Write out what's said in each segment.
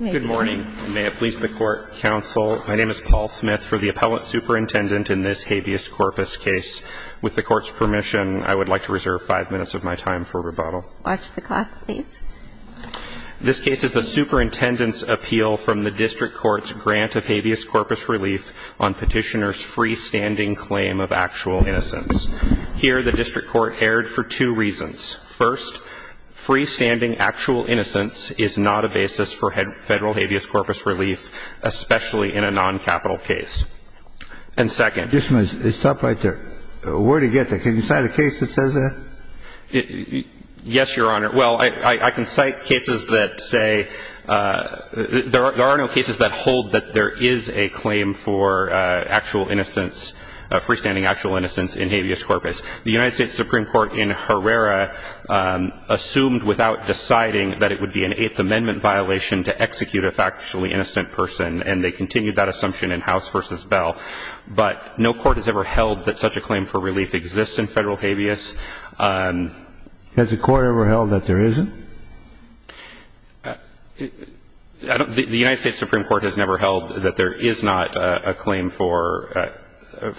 Good morning. May it please the Court, Counsel. My name is Paul Smith for the appellate superintendent in this habeas corpus case. With the Court's permission, I would like to reserve five minutes of my time for rebuttal. Watch the clock, please. This case is a superintendent's appeal from the district court's grant of habeas corpus relief on petitioner's freestanding claim of actual innocence. Here, the district court erred for two reasons. First, freestanding actual innocence is not a basis for federal habeas corpus relief, especially in a non-capital case. And second — Just a minute. Stop right there. Where did he get that? Can you cite a case that says that? Yes, Your Honor. Well, I can cite cases that say — there are no cases that hold that there is a claim for actual innocence, freestanding actual innocence in habeas corpus. The United States Supreme Court in Herrera assumed without deciding that it would be an Eighth Amendment violation to execute a factually innocent person, and they continued that assumption in House v. Bell. But no court has ever held that such a claim for relief exists in federal habeas. Has the Court ever held that there isn't? The United States Supreme Court has never held that there is not a claim for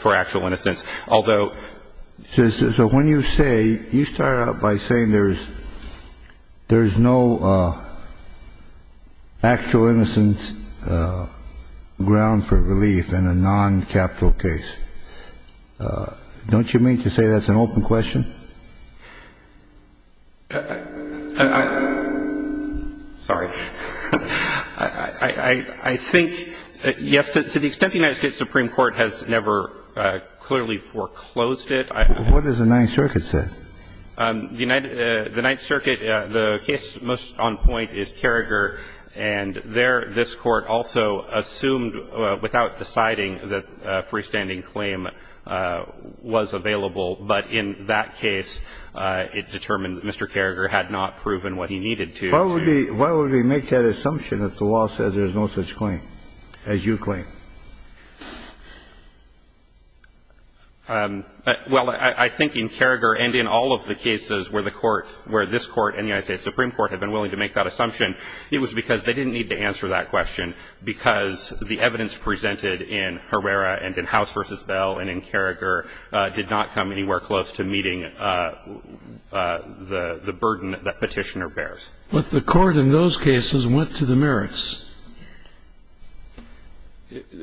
actual innocence, although — So when you say — you start out by saying there's no actual innocence ground for relief in a non-capital case. Don't you mean to say that's an open question? Sorry. I think, yes, to the extent the United States Supreme Court has never clearly foreclosed it, I — What does the Ninth Circuit say? The Ninth Circuit, the case most on point is Carragher, and there this Court also assumed without deciding that a freestanding claim was available. But in that case, it determined that Mr. Carragher had not proven what he needed to. Why would they make that assumption if the law says there's no such claim, as you claim? Well, I think in Carragher and in all of the cases where the Court — where this Court and the United States Supreme Court have been willing to make that assumption, it was because they didn't need to answer that question, because the evidence was not anywhere close to meeting the burden that Petitioner bears. But the Court in those cases went to the merits.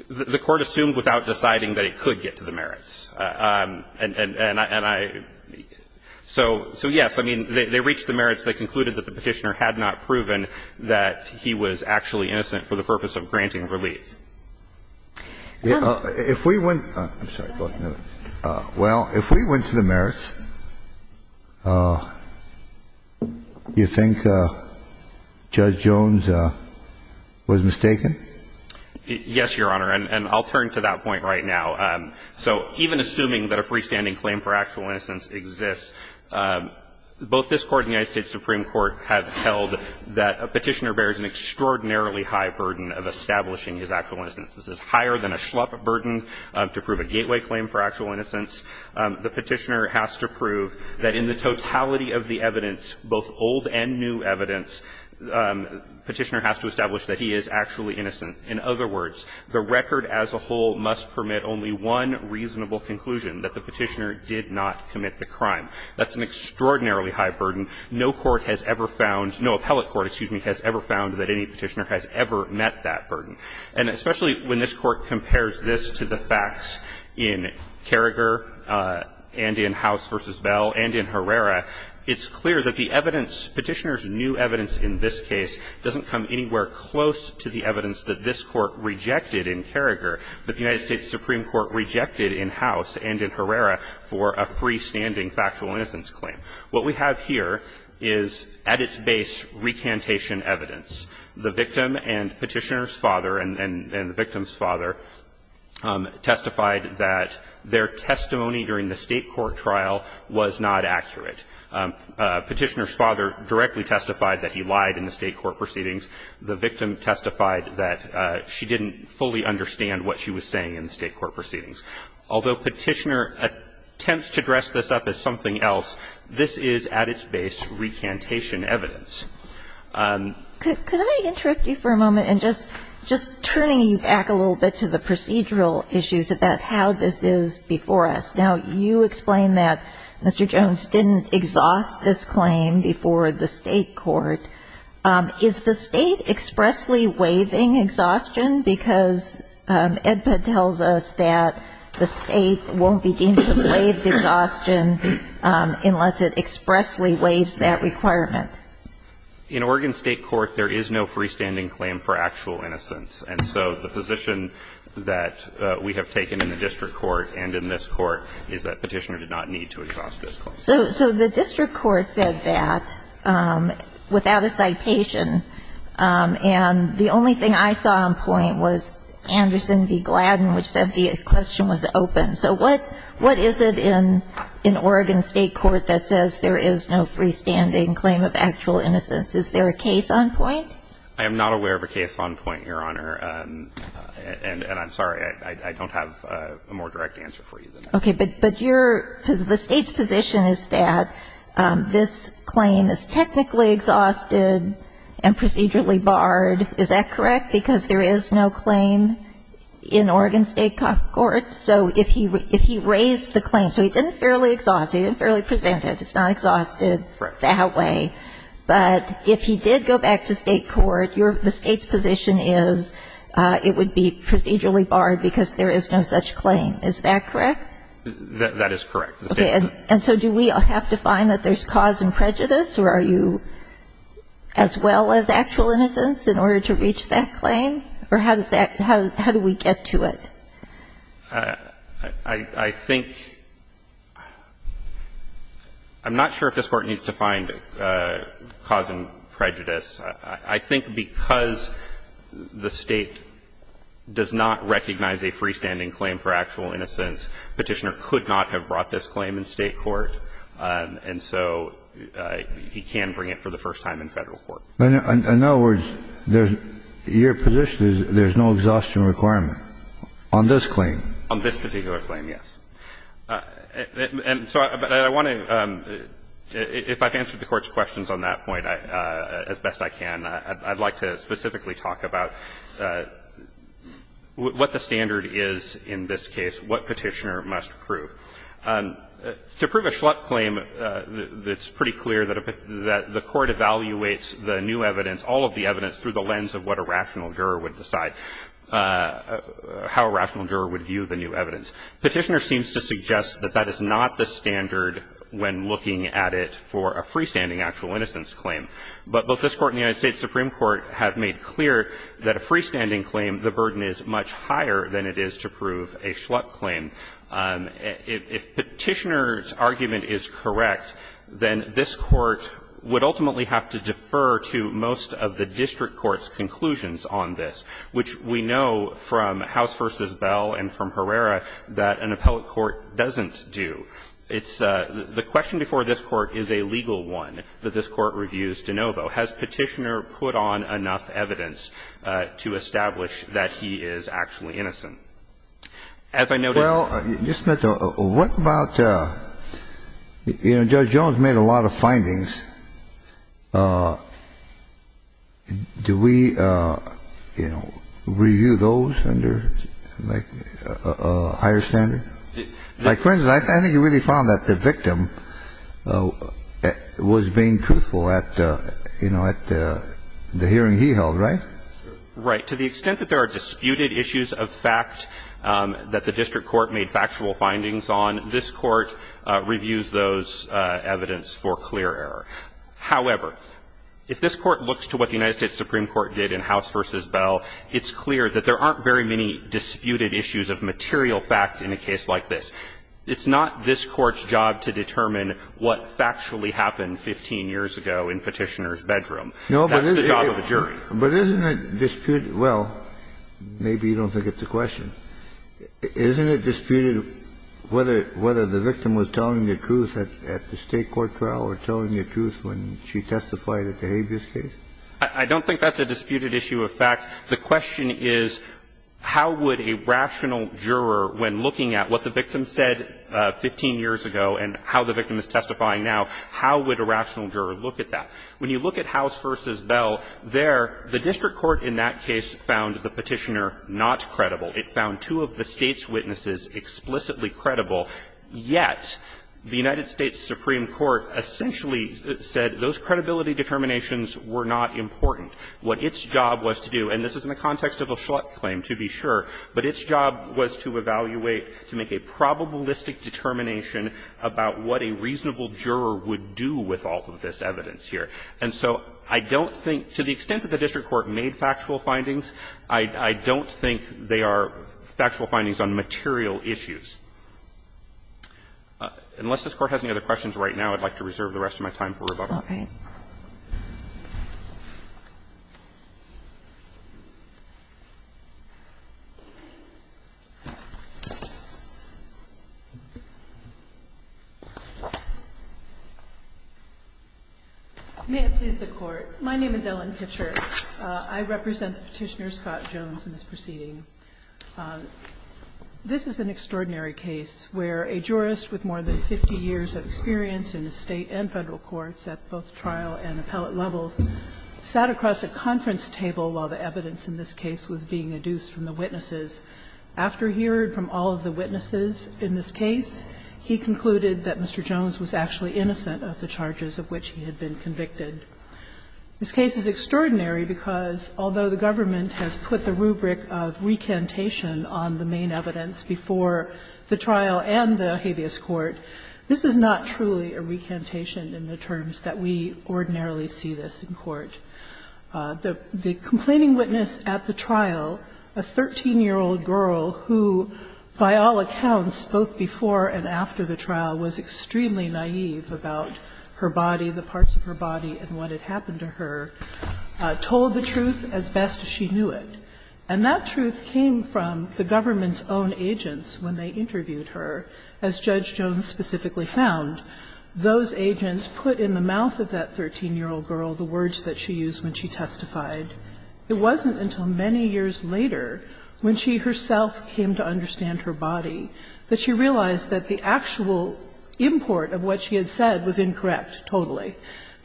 The Court assumed without deciding that it could get to the merits. And I — so, yes, I mean, they reached the merits. They concluded that the Petitioner had not proven that he was actually innocent for the purpose of granting relief. If we went — I'm sorry, go ahead. Well, if we went to the merits, you think Judge Jones was mistaken? Yes, Your Honor, and I'll turn to that point right now. So even assuming that a freestanding claim for actual innocence exists, both this Court and the United States Supreme Court have held that Petitioner bears an extraordinarily high burden of establishing his actual innocence. This is higher than a schlup burden to prove a gateway claim for actual innocence. The Petitioner has to prove that in the totality of the evidence, both old and new evidence, Petitioner has to establish that he is actually innocent. In other words, the record as a whole must permit only one reasonable conclusion, that the Petitioner did not commit the crime. That's an extraordinarily high burden. No court has ever found — no appellate court, excuse me, has ever found that any Petitioner has ever met that burden. And especially when this Court compares this to the facts in Carragher and in House v. Bell and in Herrera, it's clear that the evidence, Petitioner's new evidence in this case, doesn't come anywhere close to the evidence that this Court rejected in Carragher that the United States Supreme Court rejected in House and in Herrera for a freestanding factual innocence claim. What we have here is at its base recantation evidence. The victim and Petitioner's father and the victim's father testified that their testimony during the State court trial was not accurate. Petitioner's father directly testified that he lied in the State court proceedings. The victim testified that she didn't fully understand what she was saying in the State court proceedings. Although Petitioner attempts to dress this up as something else, this is at its base recantation evidence. Kagan. Can I interrupt you for a moment in just turning you back a little bit to the procedural issues about how this is before us? Now, you explain that Mr. Jones didn't exhaust this claim before the State court. Is the State expressly waiving exhaustion because EDPA tells us that the State won't be deemed to have waived exhaustion unless it expressly waives that requirement? In Oregon State court, there is no freestanding claim for actual innocence. And so the position that we have taken in the District court and in this court is that Petitioner did not need to exhaust this claim. So the District court said that without a citation, and the only thing I saw on point was Anderson v. Gladden, which said the question was open. So what is it in Oregon State court that says there is no freestanding claim of actual innocence? Is there a case on point? I am not aware of a case on point, Your Honor. And I'm sorry, I don't have a more direct answer for you than that. Okay. But your, the State's position is that this claim is technically exhausted and procedurally barred. Is that correct? Because there is no claim in Oregon State court. So if he raised the claim, so he didn't fairly exhaust it, he didn't fairly present it, it's not exhausted that way. But if he did go back to State court, the State's position is it would be procedurally barred because there is no such claim. Is that correct? That is correct. Okay. And so do we have to find that there is cause and prejudice, or are you as well as actual innocence in order to reach that claim? Or how does that, how do we get to it? I think, I'm not sure if this Court needs to find cause and prejudice. I think because the State does not recognize a freestanding claim for actual innocence, Petitioner could not have brought this claim in State court. And so he can bring it for the first time in Federal court. In other words, there's, your position is there's no exhaustion requirement on this claim? On this particular claim, yes. And so I want to, if I've answered the Court's questions on that point as best I can, I'd like to specifically talk about what the standard is in this case, what Petitioner must prove. To prove a Schlup claim, it's pretty clear that the Court evaluates the new evidence, all of the evidence, through the lens of what a rational juror would decide, how a rational juror would view the new evidence. Petitioner seems to suggest that that is not the standard when looking at it for a freestanding actual innocence claim. But both this Court and the United States Supreme Court have made clear that a freestanding claim, the burden is much higher than it is to prove a Schlup claim. If Petitioner's argument is correct, then this Court would ultimately have to defer to most of the district court's conclusions on this, which we know from House v. Bell and from Herrera that an appellate court doesn't do. It's the question before this Court is a legal one that this Court reviews de novo. Has Petitioner put on enough evidence to establish that he is actually innocent? As I noted ---- Well, Mr. Smith, what about, you know, Judge Jones made a lot of findings. Do we, you know, review those under, like, a higher standard? Like, for instance, I think you really found that the victim was being truthful at, you know, at the hearing he held, right? Right. To the extent that there are disputed issues of fact that the district court made factual findings on, this Court reviews those evidence for clear error. However, if this Court looks to what the United States Supreme Court did in House v. Bell, it's clear that there aren't very many disputed issues of material fact in a case like this. It's not this Court's job to determine what factually happened 15 years ago in Petitioner's bedroom. That's the job of a jury. But isn't it disputed ---- well, maybe you don't think it's a question. Isn't it disputed whether the victim was telling the truth at the State court trial or telling the truth when she testified at the habeas case? I don't think that's a disputed issue of fact. The question is, how would a rational juror, when looking at what the victim said 15 years ago and how the victim is testifying now, how would a rational juror look at that? When you look at House v. Bell there, the district court in that case found the Petitioner not credible. It found two of the State's witnesses explicitly credible. Yet, the United States Supreme Court essentially said those credibility determinations were not important. What its job was to do, and this is in the context of a Schlutt claim, to be sure, but its job was to evaluate, to make a probabilistic determination about what a reasonable juror would do with all of this evidence here. And so I don't think, to the extent that the district court made factual findings, I don't think they are factual findings on material issues. Unless this Court has any other questions right now, I'd like to reserve the rest of my time for rebuttal. May I please the Court. My name is Ellen Kitcher. I represent Petitioner Scott Jones in this proceeding. This is an extraordinary case where a jurist with more than 50 years of experience in the State and Federal courts at both trial and appellate levels sat across a conference table while the evidence in this case was being adduced from the witnesses. After hearing from all of the witnesses in this case, he concluded that Mr. Jones was actually innocent of the charges of which he had been convicted. This case is extraordinary because, although the government has put the rubric of recantation on the main evidence before the trial and the habeas court, this is not truly a recantation in the terms that we ordinarily see this in court. The complaining witness at the trial, a 13-year-old girl who, by all accounts, both before and after the trial, was extremely naive about her body, the parts of her body and what had happened to her, told the truth as best she knew it. And that truth came from the government's own agents when they interviewed her, as Judge Jones specifically found. Those agents put in the mouth of that 13-year-old girl the words that she used when she testified. It wasn't until many years later, when she herself came to understand her body, that she realized that the actual import of what she had said was incorrect totally.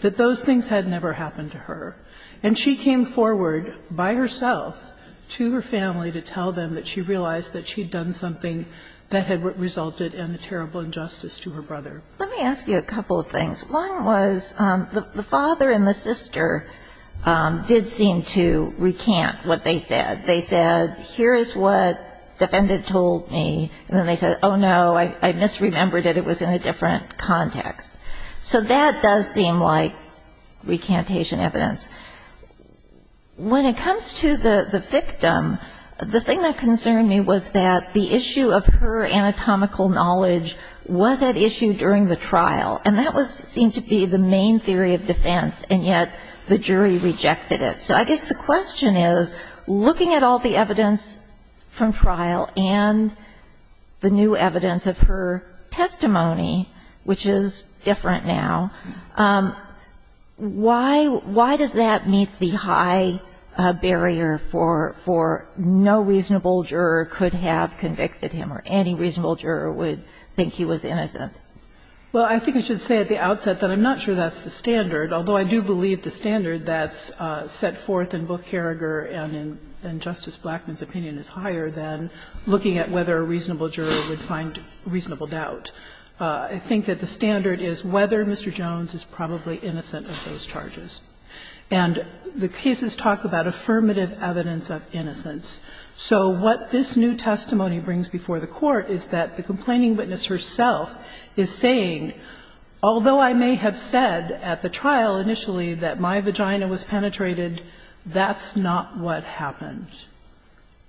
That those things had never happened to her. And she came forward by herself to her family to tell them that she realized that she had done something that had resulted in a terrible injustice to her brother. Let me ask you a couple of things. One was, the father and the sister did seem to recant what they said. They said, here is what the defendant told me, and then they said, oh, no, I misremembered it, it was in a different context. So that does seem like recantation evidence. When it comes to the victim, the thing that concerned me was that the issue of her anatomical knowledge was at issue during the trial. And that seemed to be the main theory of defense, and yet the jury rejected it. So I guess the question is, looking at all the evidence from trial and the new evidence of her testimony, which is different now, why does that meet the high barrier for no reasonable juror could have convicted him, or any reasonable juror would think he was innocent? Well, I think I should say at the outset that I'm not sure that's the standard. Although I do believe the standard that's set forth in both Carragher and Justice Blackman's opinion is higher than looking at whether a reasonable juror would find reasonable doubt. I think that the standard is whether Mr. Jones is probably innocent of those charges. And the cases talk about affirmative evidence of innocence. So what this new testimony brings before the Court is that the complaining witness herself is saying, although I may have said at the trial initially that my vagina was penetrated, that's not what happened.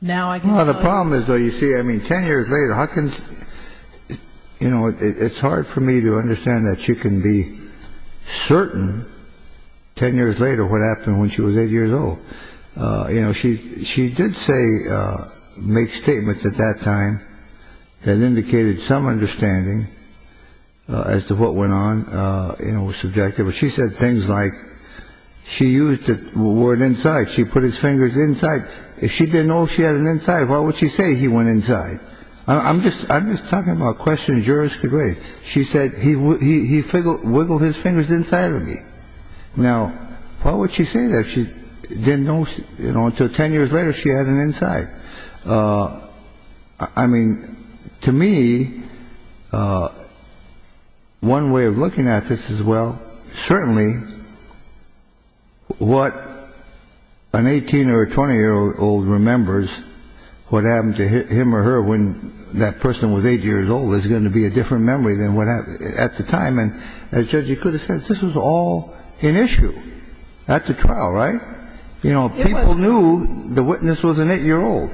Now I can tell you- Well, the problem is, though, you see, I mean, ten years later, how can, you know, it's hard for me to understand that you can be certain ten years later what happened when she was eight years old. You know, she did say, make statements at that time that indicated some understanding as to what went on, you know, was subjective. She said things like she used the word inside. She put his fingers inside. If she didn't know she had an inside, why would she say he went inside? I'm just talking about questions jurors could raise. She said he wiggled his fingers inside of me. Now, why would she say that? She didn't know, you know, until ten years later she had an inside. I mean, to me, one way of looking at this is, well, certainly what an 18 or 20-year-old remembers, what happened to him or her when that person was eight years old is going to be a different memory than what happened at the time. And as Judge Ikuda said, this was all an issue at the trial, right? You know, people knew the witness was an eight-year-old.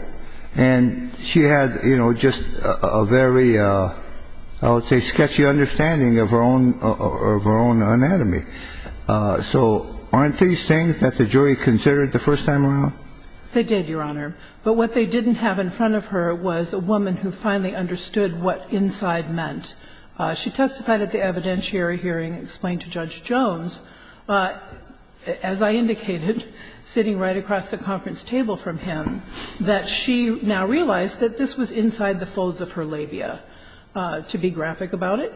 And she had, you know, just a very, I would say, sketchy understanding of her own anatomy. So aren't these things that the jury considered the first time around? They did, Your Honor. But what they didn't have in front of her was a woman who finally understood what inside meant. She testified at the evidentiary hearing and explained to Judge Jones, as I indicated, sitting right across the conference table from him, that she now realized that this was inside the folds of her labia, to be graphic about it,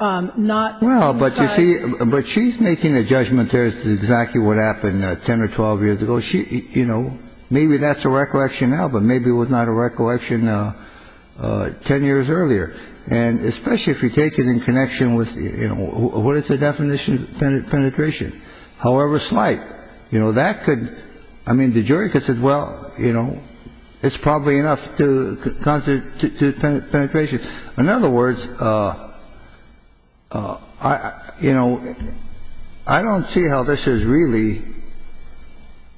not inside. Well, but you see, but she's making a judgment there as to exactly what happened 10 or 12 years ago. She, you know, maybe that's a recollection now, but maybe it was not a recollection 10 years earlier. And especially if you take it in connection with, you know, what is the definition of penetration? However slight. You know, that could, I mean, the jury could say, well, you know, it's probably enough to constitute penetration. In other words, you know, I don't see how this is really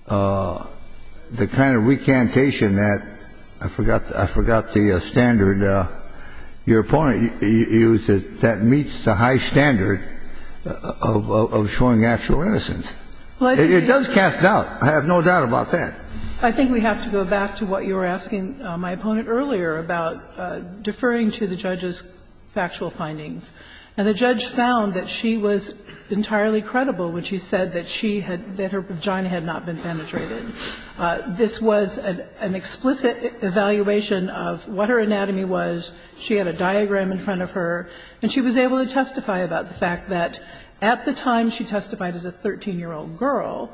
the kind of recantation that, I forgot the standard your opponent used, that meets the high standard of showing actual innocence. It does cast doubt. I have no doubt about that. I think we have to go back to what you were asking my opponent earlier about deferring to the judge's factual findings. And the judge found that she was entirely credible when she said that she had that her vagina had not been penetrated. This was an explicit evaluation of what her anatomy was. She had a diagram in front of her. And she was able to testify about the fact that at the time she testified as a 13-year-old girl,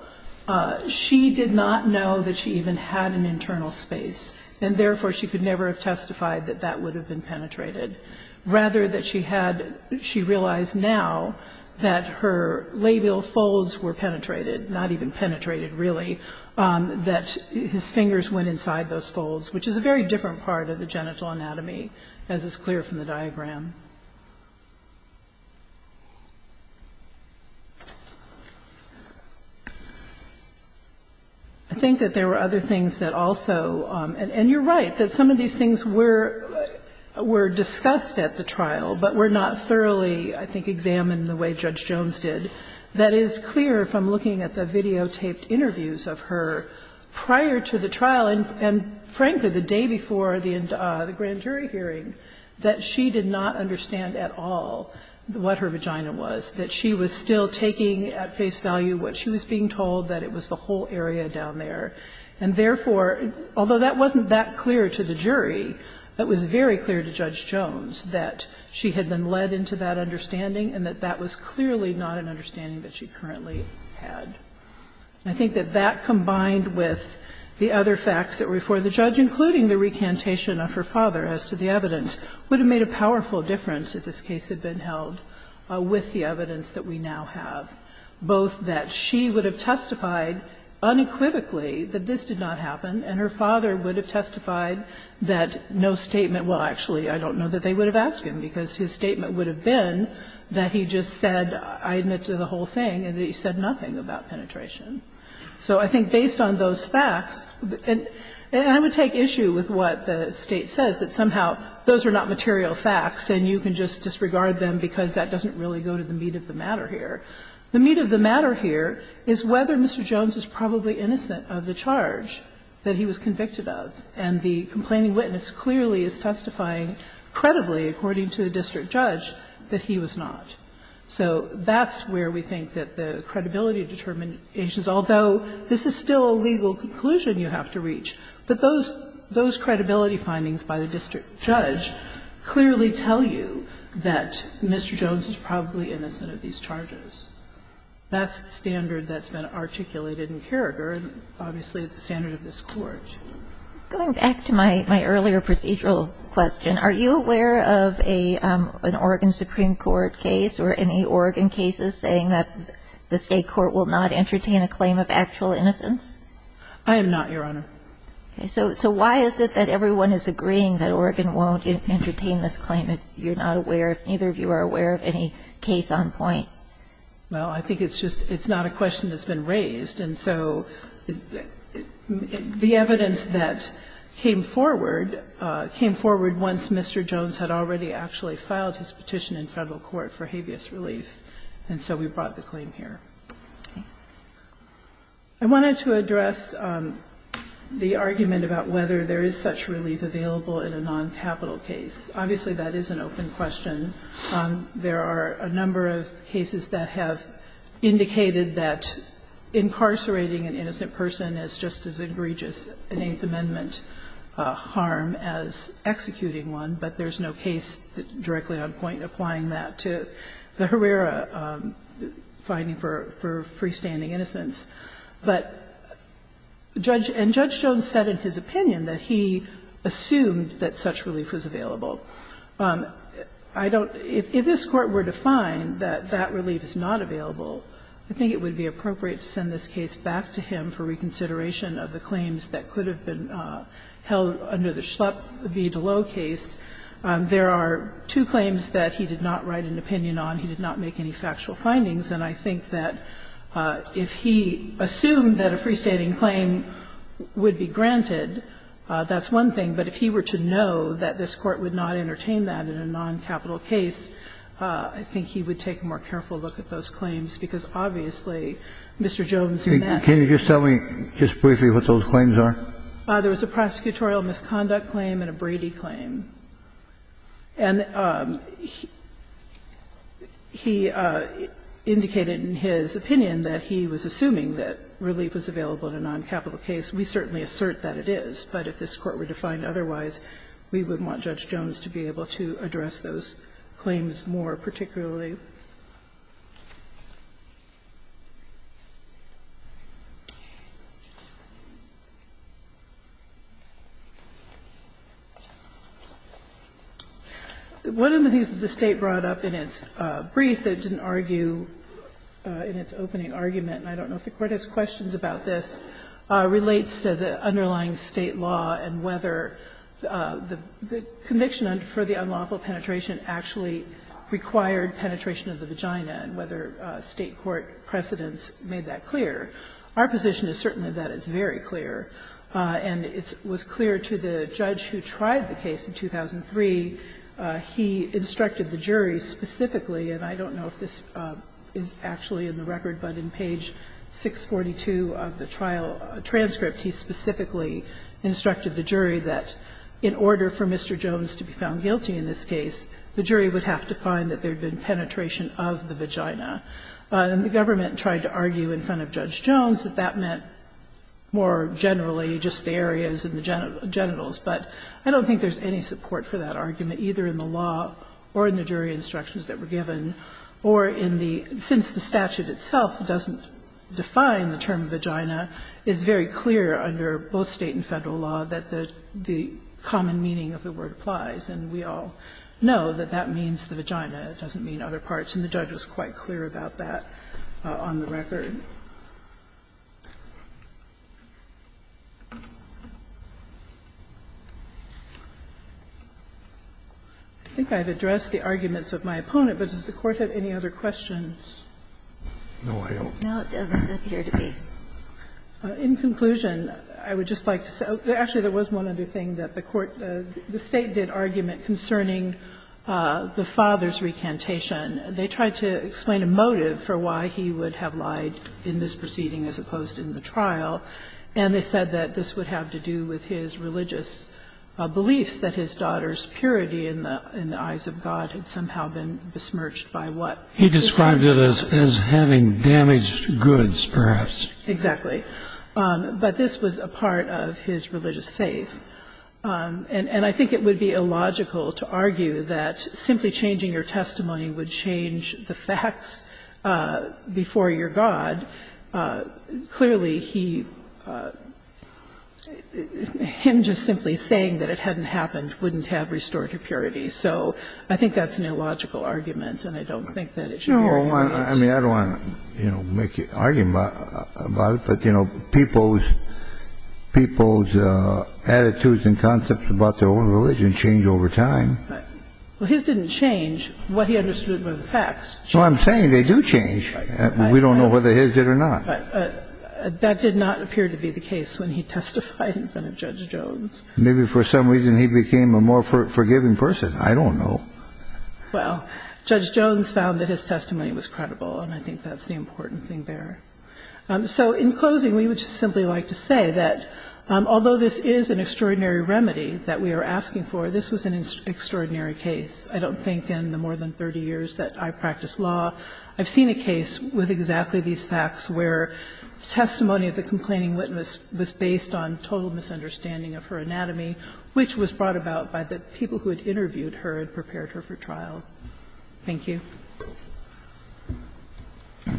she did not know that she even had an internal space. And therefore, she could never have testified that that would have been penetrated. Rather that she had, she realized now that her labial folds were penetrated, not even penetrated really. That his fingers went inside those folds, which is a very different part of the genital anatomy, as is clear from the diagram. I think that there were other things that also, and you're right, that some of these things were discussed at the trial, but were not thoroughly, I think, examined the way Judge Jones did. That is clear from looking at the videotaped interviews of her prior to the trial, and frankly, the day before the grand jury hearing, that she did not understand at all what her vagina was. That she was still taking at face value what she was being told, that it was the whole area down there. And therefore, although that wasn't that clear to the jury, it was very clear to Judge Jones that she did not have the understanding that she currently had. I think that that combined with the other facts that were before the judge, including the recantation of her father as to the evidence, would have made a powerful difference if this case had been held with the evidence that we now have. Both that she would have testified unequivocally that this did not happen, and her father would have testified that no statement. Well, actually, I don't know that they would have asked him, because his statement would have been that he just said, I admit to the whole thing, and that he said nothing about penetration. So I think based on those facts, and I would take issue with what the State says, that somehow those are not material facts and you can just disregard them because that doesn't really go to the meat of the matter here. The meat of the matter here is whether Mr. Jones is probably innocent of the charge that he was convicted of, and the complaining witness clearly is testifying credibly, according to the district judge, that he was not. So that's where we think that the credibility determinations, although this is still a legal conclusion you have to reach, but those credibility findings by the district judge clearly tell you that Mr. Jones is probably innocent of these charges. That's the standard that's been articulated in Carragher and obviously the standard of this Court. Going back to my earlier procedural question, are you aware of an Oregon Supreme Court case or any Oregon cases saying that the State court will not entertain a claim of actual innocence? I am not, Your Honor. Okay. So why is it that everyone is agreeing that Oregon won't entertain this claim if you're not aware, if neither of you are aware of any case on point? Well, I think it's just it's not a question that's been raised. And so the evidence that came forward, came forward once Mr. Jones had already actually filed his petition in Federal court for habeas relief, and so we brought the claim here. I wanted to address the argument about whether there is such relief available in a noncapital case. Obviously, that is an open question. There are a number of cases that have indicated that incarcerating an innocent person is just as egregious an Eighth Amendment harm as executing one, but there is no case directly on point applying that to the Herrera finding for freestanding innocence. But Judge – and Judge Jones said in his opinion that he assumed that such relief was available. I don't – if this Court were to find that that relief is not available, I think it would be appropriate to send this case back to him for reconsideration of the claims that could have been held under the Schlepp v. Deleux case. There are two claims that he did not write an opinion on. He did not make any factual findings, and I think that if he assumed that a freestanding claim would be granted, that's one thing. But if he were to know that this Court would not entertain that in a noncapital case, I think he would take a more careful look at those claims, because obviously Mr. Jones, he met – Kennedy Can you just tell me, just briefly, what those claims are? There was a prosecutorial misconduct claim and a Brady claim. And he indicated in his opinion that he was assuming that relief was available in a noncapital case. We certainly assert that it is, but if this Court were to find otherwise, we wouldn't want Judge Jones to be able to address those claims more, particularly. One of the things that the State brought up in its brief that didn't argue in its opening argument, and I don't know if the Court has questions about this, relates to the underlying State law and whether the conviction for the unlawful penetration actually required penetration of the vagina, and whether State court precedents made that clear. Our position is certainly that it's very clear, and it was clear to the judge who tried the case in 2003. He instructed the jury specifically, and I don't know if this is actually in the record but in page 642 of the trial transcript, he specifically instructed the jury that in order for Mr. Jones to be found guilty in this case, the jury would have to find that there had been penetration of the vagina. And the government tried to argue in front of Judge Jones that that meant more generally just the areas in the genitals, but I don't think there's any support for that argument either in the law or in the jury instructions that were given or in the – since the statute itself doesn't define the term vagina, it's very clear under both State and Federal law that the common meaning of the word applies, and we all know that that means the vagina. It doesn't mean other parts, and the judge was quite clear about that on the record. I think I've addressed the arguments of my opponent, but does the Court have any other questions? No, I don't. Now it doesn't appear to be. In conclusion, I would just like to say – actually, there was one other thing that the Court – the State did argument concerning the father's recantation. They tried to explain a motive for why he would have lied in this proceeding as opposed to in the trial, and they said that this would have to do with his religious beliefs, that his daughter's purity in the eyes of God had somehow been besmirched by what he said. He described it as having damaged goods, perhaps. Exactly. But this was a part of his religious faith, and I think it would be illogical to argue that simply changing your testimony would change the facts before your God. Clearly, he – him just simply saying that it hadn't happened wouldn't have restored your purity. So I think that's an illogical argument, and I don't think that it should be argued. No, I mean, I don't want to, you know, argue about it, but, you know, people's attitudes and concepts about their own religion change over time. Right. Well, his didn't change what he understood were the facts. So I'm saying they do change. We don't know whether his did or not. That did not appear to be the case when he testified in front of Judge Jones. Maybe for some reason he became a more forgiving person. I don't know. Well, Judge Jones found that his testimony was credible, and I think that's the important thing there. So in closing, we would just simply like to say that although this is an extraordinary remedy that we are asking for, this was an extraordinary case. I don't think in the more than 30 years that I practice law I've seen a case with exactly these facts where testimony of the complaining witness was based on total misunderstanding of her anatomy, which was brought about by the people who had interviewed her and prepared her for trial. Thank you. Roberts.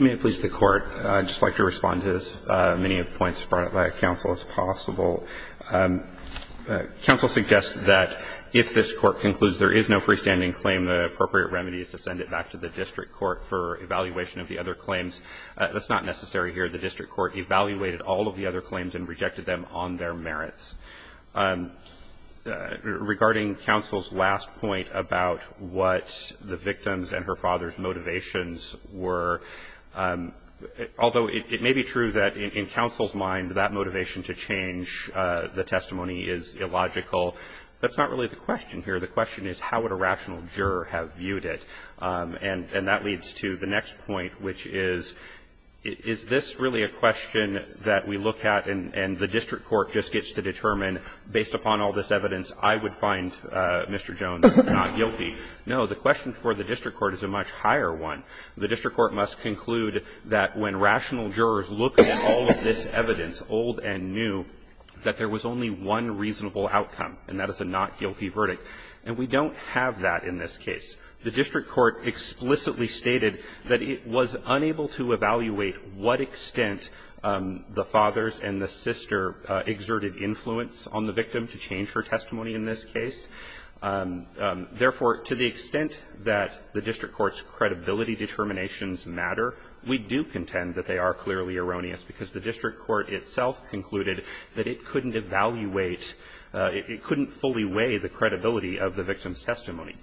May it please the Court. I'd just like to respond to as many of the points brought by counsel as possible. Counsel suggests that if this Court concludes there is no freestanding claim, the appropriate remedy is to send it back to the district court for evaluation of the other claims. That's not necessary here. The district court evaluated all of the other claims and rejected them on their merits. Regarding counsel's last point about what the victim's and her father's motivations were, although it may be true that in counsel's mind that motivation to change the testimony is illogical, that's not really the question here. The question is how would a rational juror have viewed it? And that leads to the next point, which is, is this really a question that we look at and the district court just gets to determine, based upon all this evidence, I would find Mr. Jones not guilty? No. The question for the district court is a much higher one. The district court must conclude that when rational jurors looked at all of this evidence, old and new, that there was only one reasonable outcome, and that is a not to change her testimony. And we don't have that in this case. The district court explicitly stated that it was unable to evaluate what extent the father's and the sister exerted influence on the victim to change her testimony in this case. Therefore, to the extent that the district court's credibility determinations matter, we do contend that they are clearly erroneous, because the district court itself concluded that it couldn't evaluate, it couldn't fully weigh the credibility of the victim's testimony.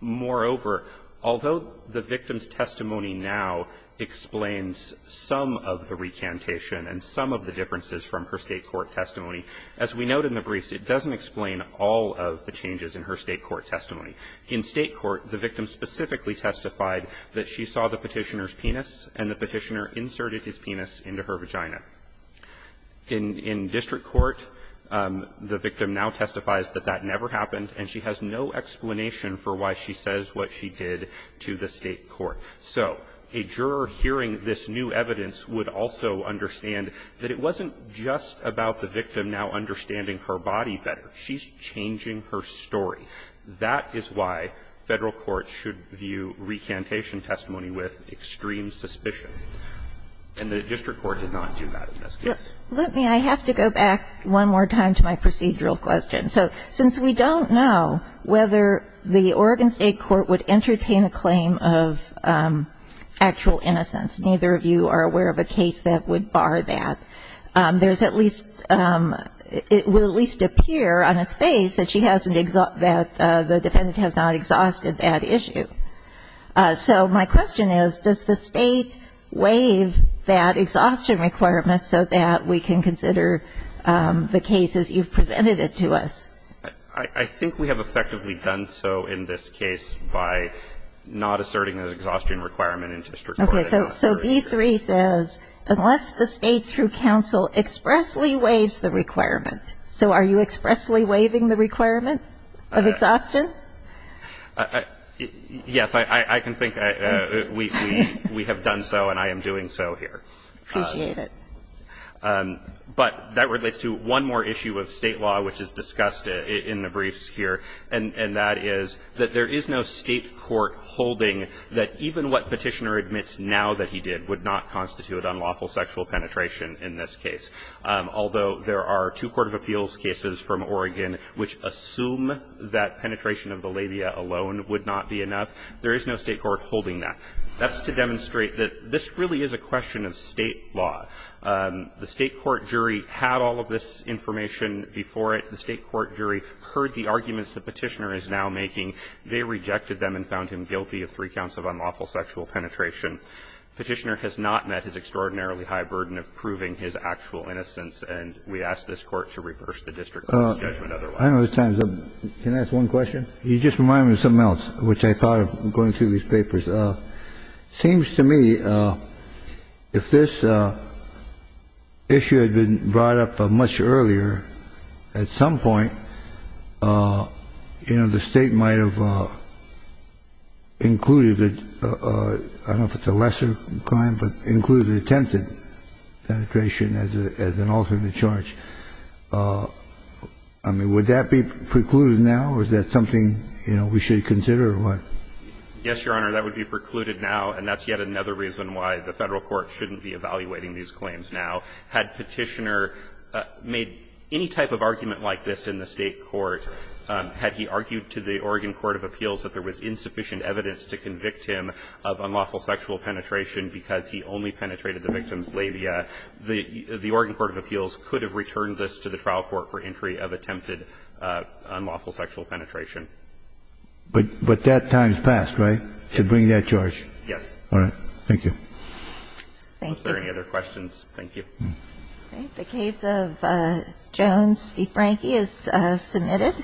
Moreover, although the victim's testimony now explains some of the recantation and some of the differences from her State court testimony, as we note in the briefs, it doesn't explain all of the changes in her State court testimony. In State court, the victim specifically testified that she saw the Petitioner's penis into her vagina. In district court, the victim now testifies that that never happened, and she has no explanation for why she says what she did to the State court. So a juror hearing this new evidence would also understand that it wasn't just about the victim now understanding her body better. She's changing her story. That is why Federal courts should view recantation testimony with extreme suspicion. And the district court did not do that in this case. Let me – I have to go back one more time to my procedural question. So since we don't know whether the Oregon State court would entertain a claim of actual innocence, neither of you are aware of a case that would bar that, there's at least – it will at least appear on its face that she hasn't – that the defendant has not exhausted that issue. So my question is, does the State waive that exhaustion requirement so that we can consider the cases you've presented it to us? I think we have effectively done so in this case by not asserting an exhaustion requirement in district court. Okay. So B-3 says, unless the State through counsel expressly waives the requirement. So are you expressly waiving the requirement of exhaustion? Yes, I can think we have done so and I am doing so here. Appreciate it. But that relates to one more issue of State law which is discussed in the briefs here, and that is that there is no State court holding that even what Petitioner admits now that he did would not constitute unlawful sexual penetration in this case. That's to demonstrate that this really is a question of State law. The State court jury had all of this information before it. The State court jury heard the arguments the Petitioner is now making. They rejected them and found him guilty of three counts of unlawful sexual penetration. Petitioner has not met his extraordinarily high burden of proving his actual innocence, and we ask this Court to reverse the district court's judgment otherwise. I know this time is up. Can I ask one question? You just reminded me of something else which I thought of going through these papers. It seems to me if this issue had been brought up much earlier at some point, you know, the State might have included it. I don't know if it's a lesser crime, but included attempted penetration as an alternate charge. I mean, would that be precluded now, or is that something, you know, we should consider, or what? Yes, Your Honor, that would be precluded now, and that's yet another reason why the Federal court shouldn't be evaluating these claims now. Had Petitioner made any type of argument like this in the State court, had he argued to the Oregon Court of Appeals that there was insufficient evidence to convict him of unlawful sexual penetration because he only penetrated the victim's labia, the injury of attempted unlawful sexual penetration. But that time has passed, right, to bring that charge? Yes. All right. Thank you. Thank you. Are there any other questions? Thank you. The case of Jones v. Frankie is submitted.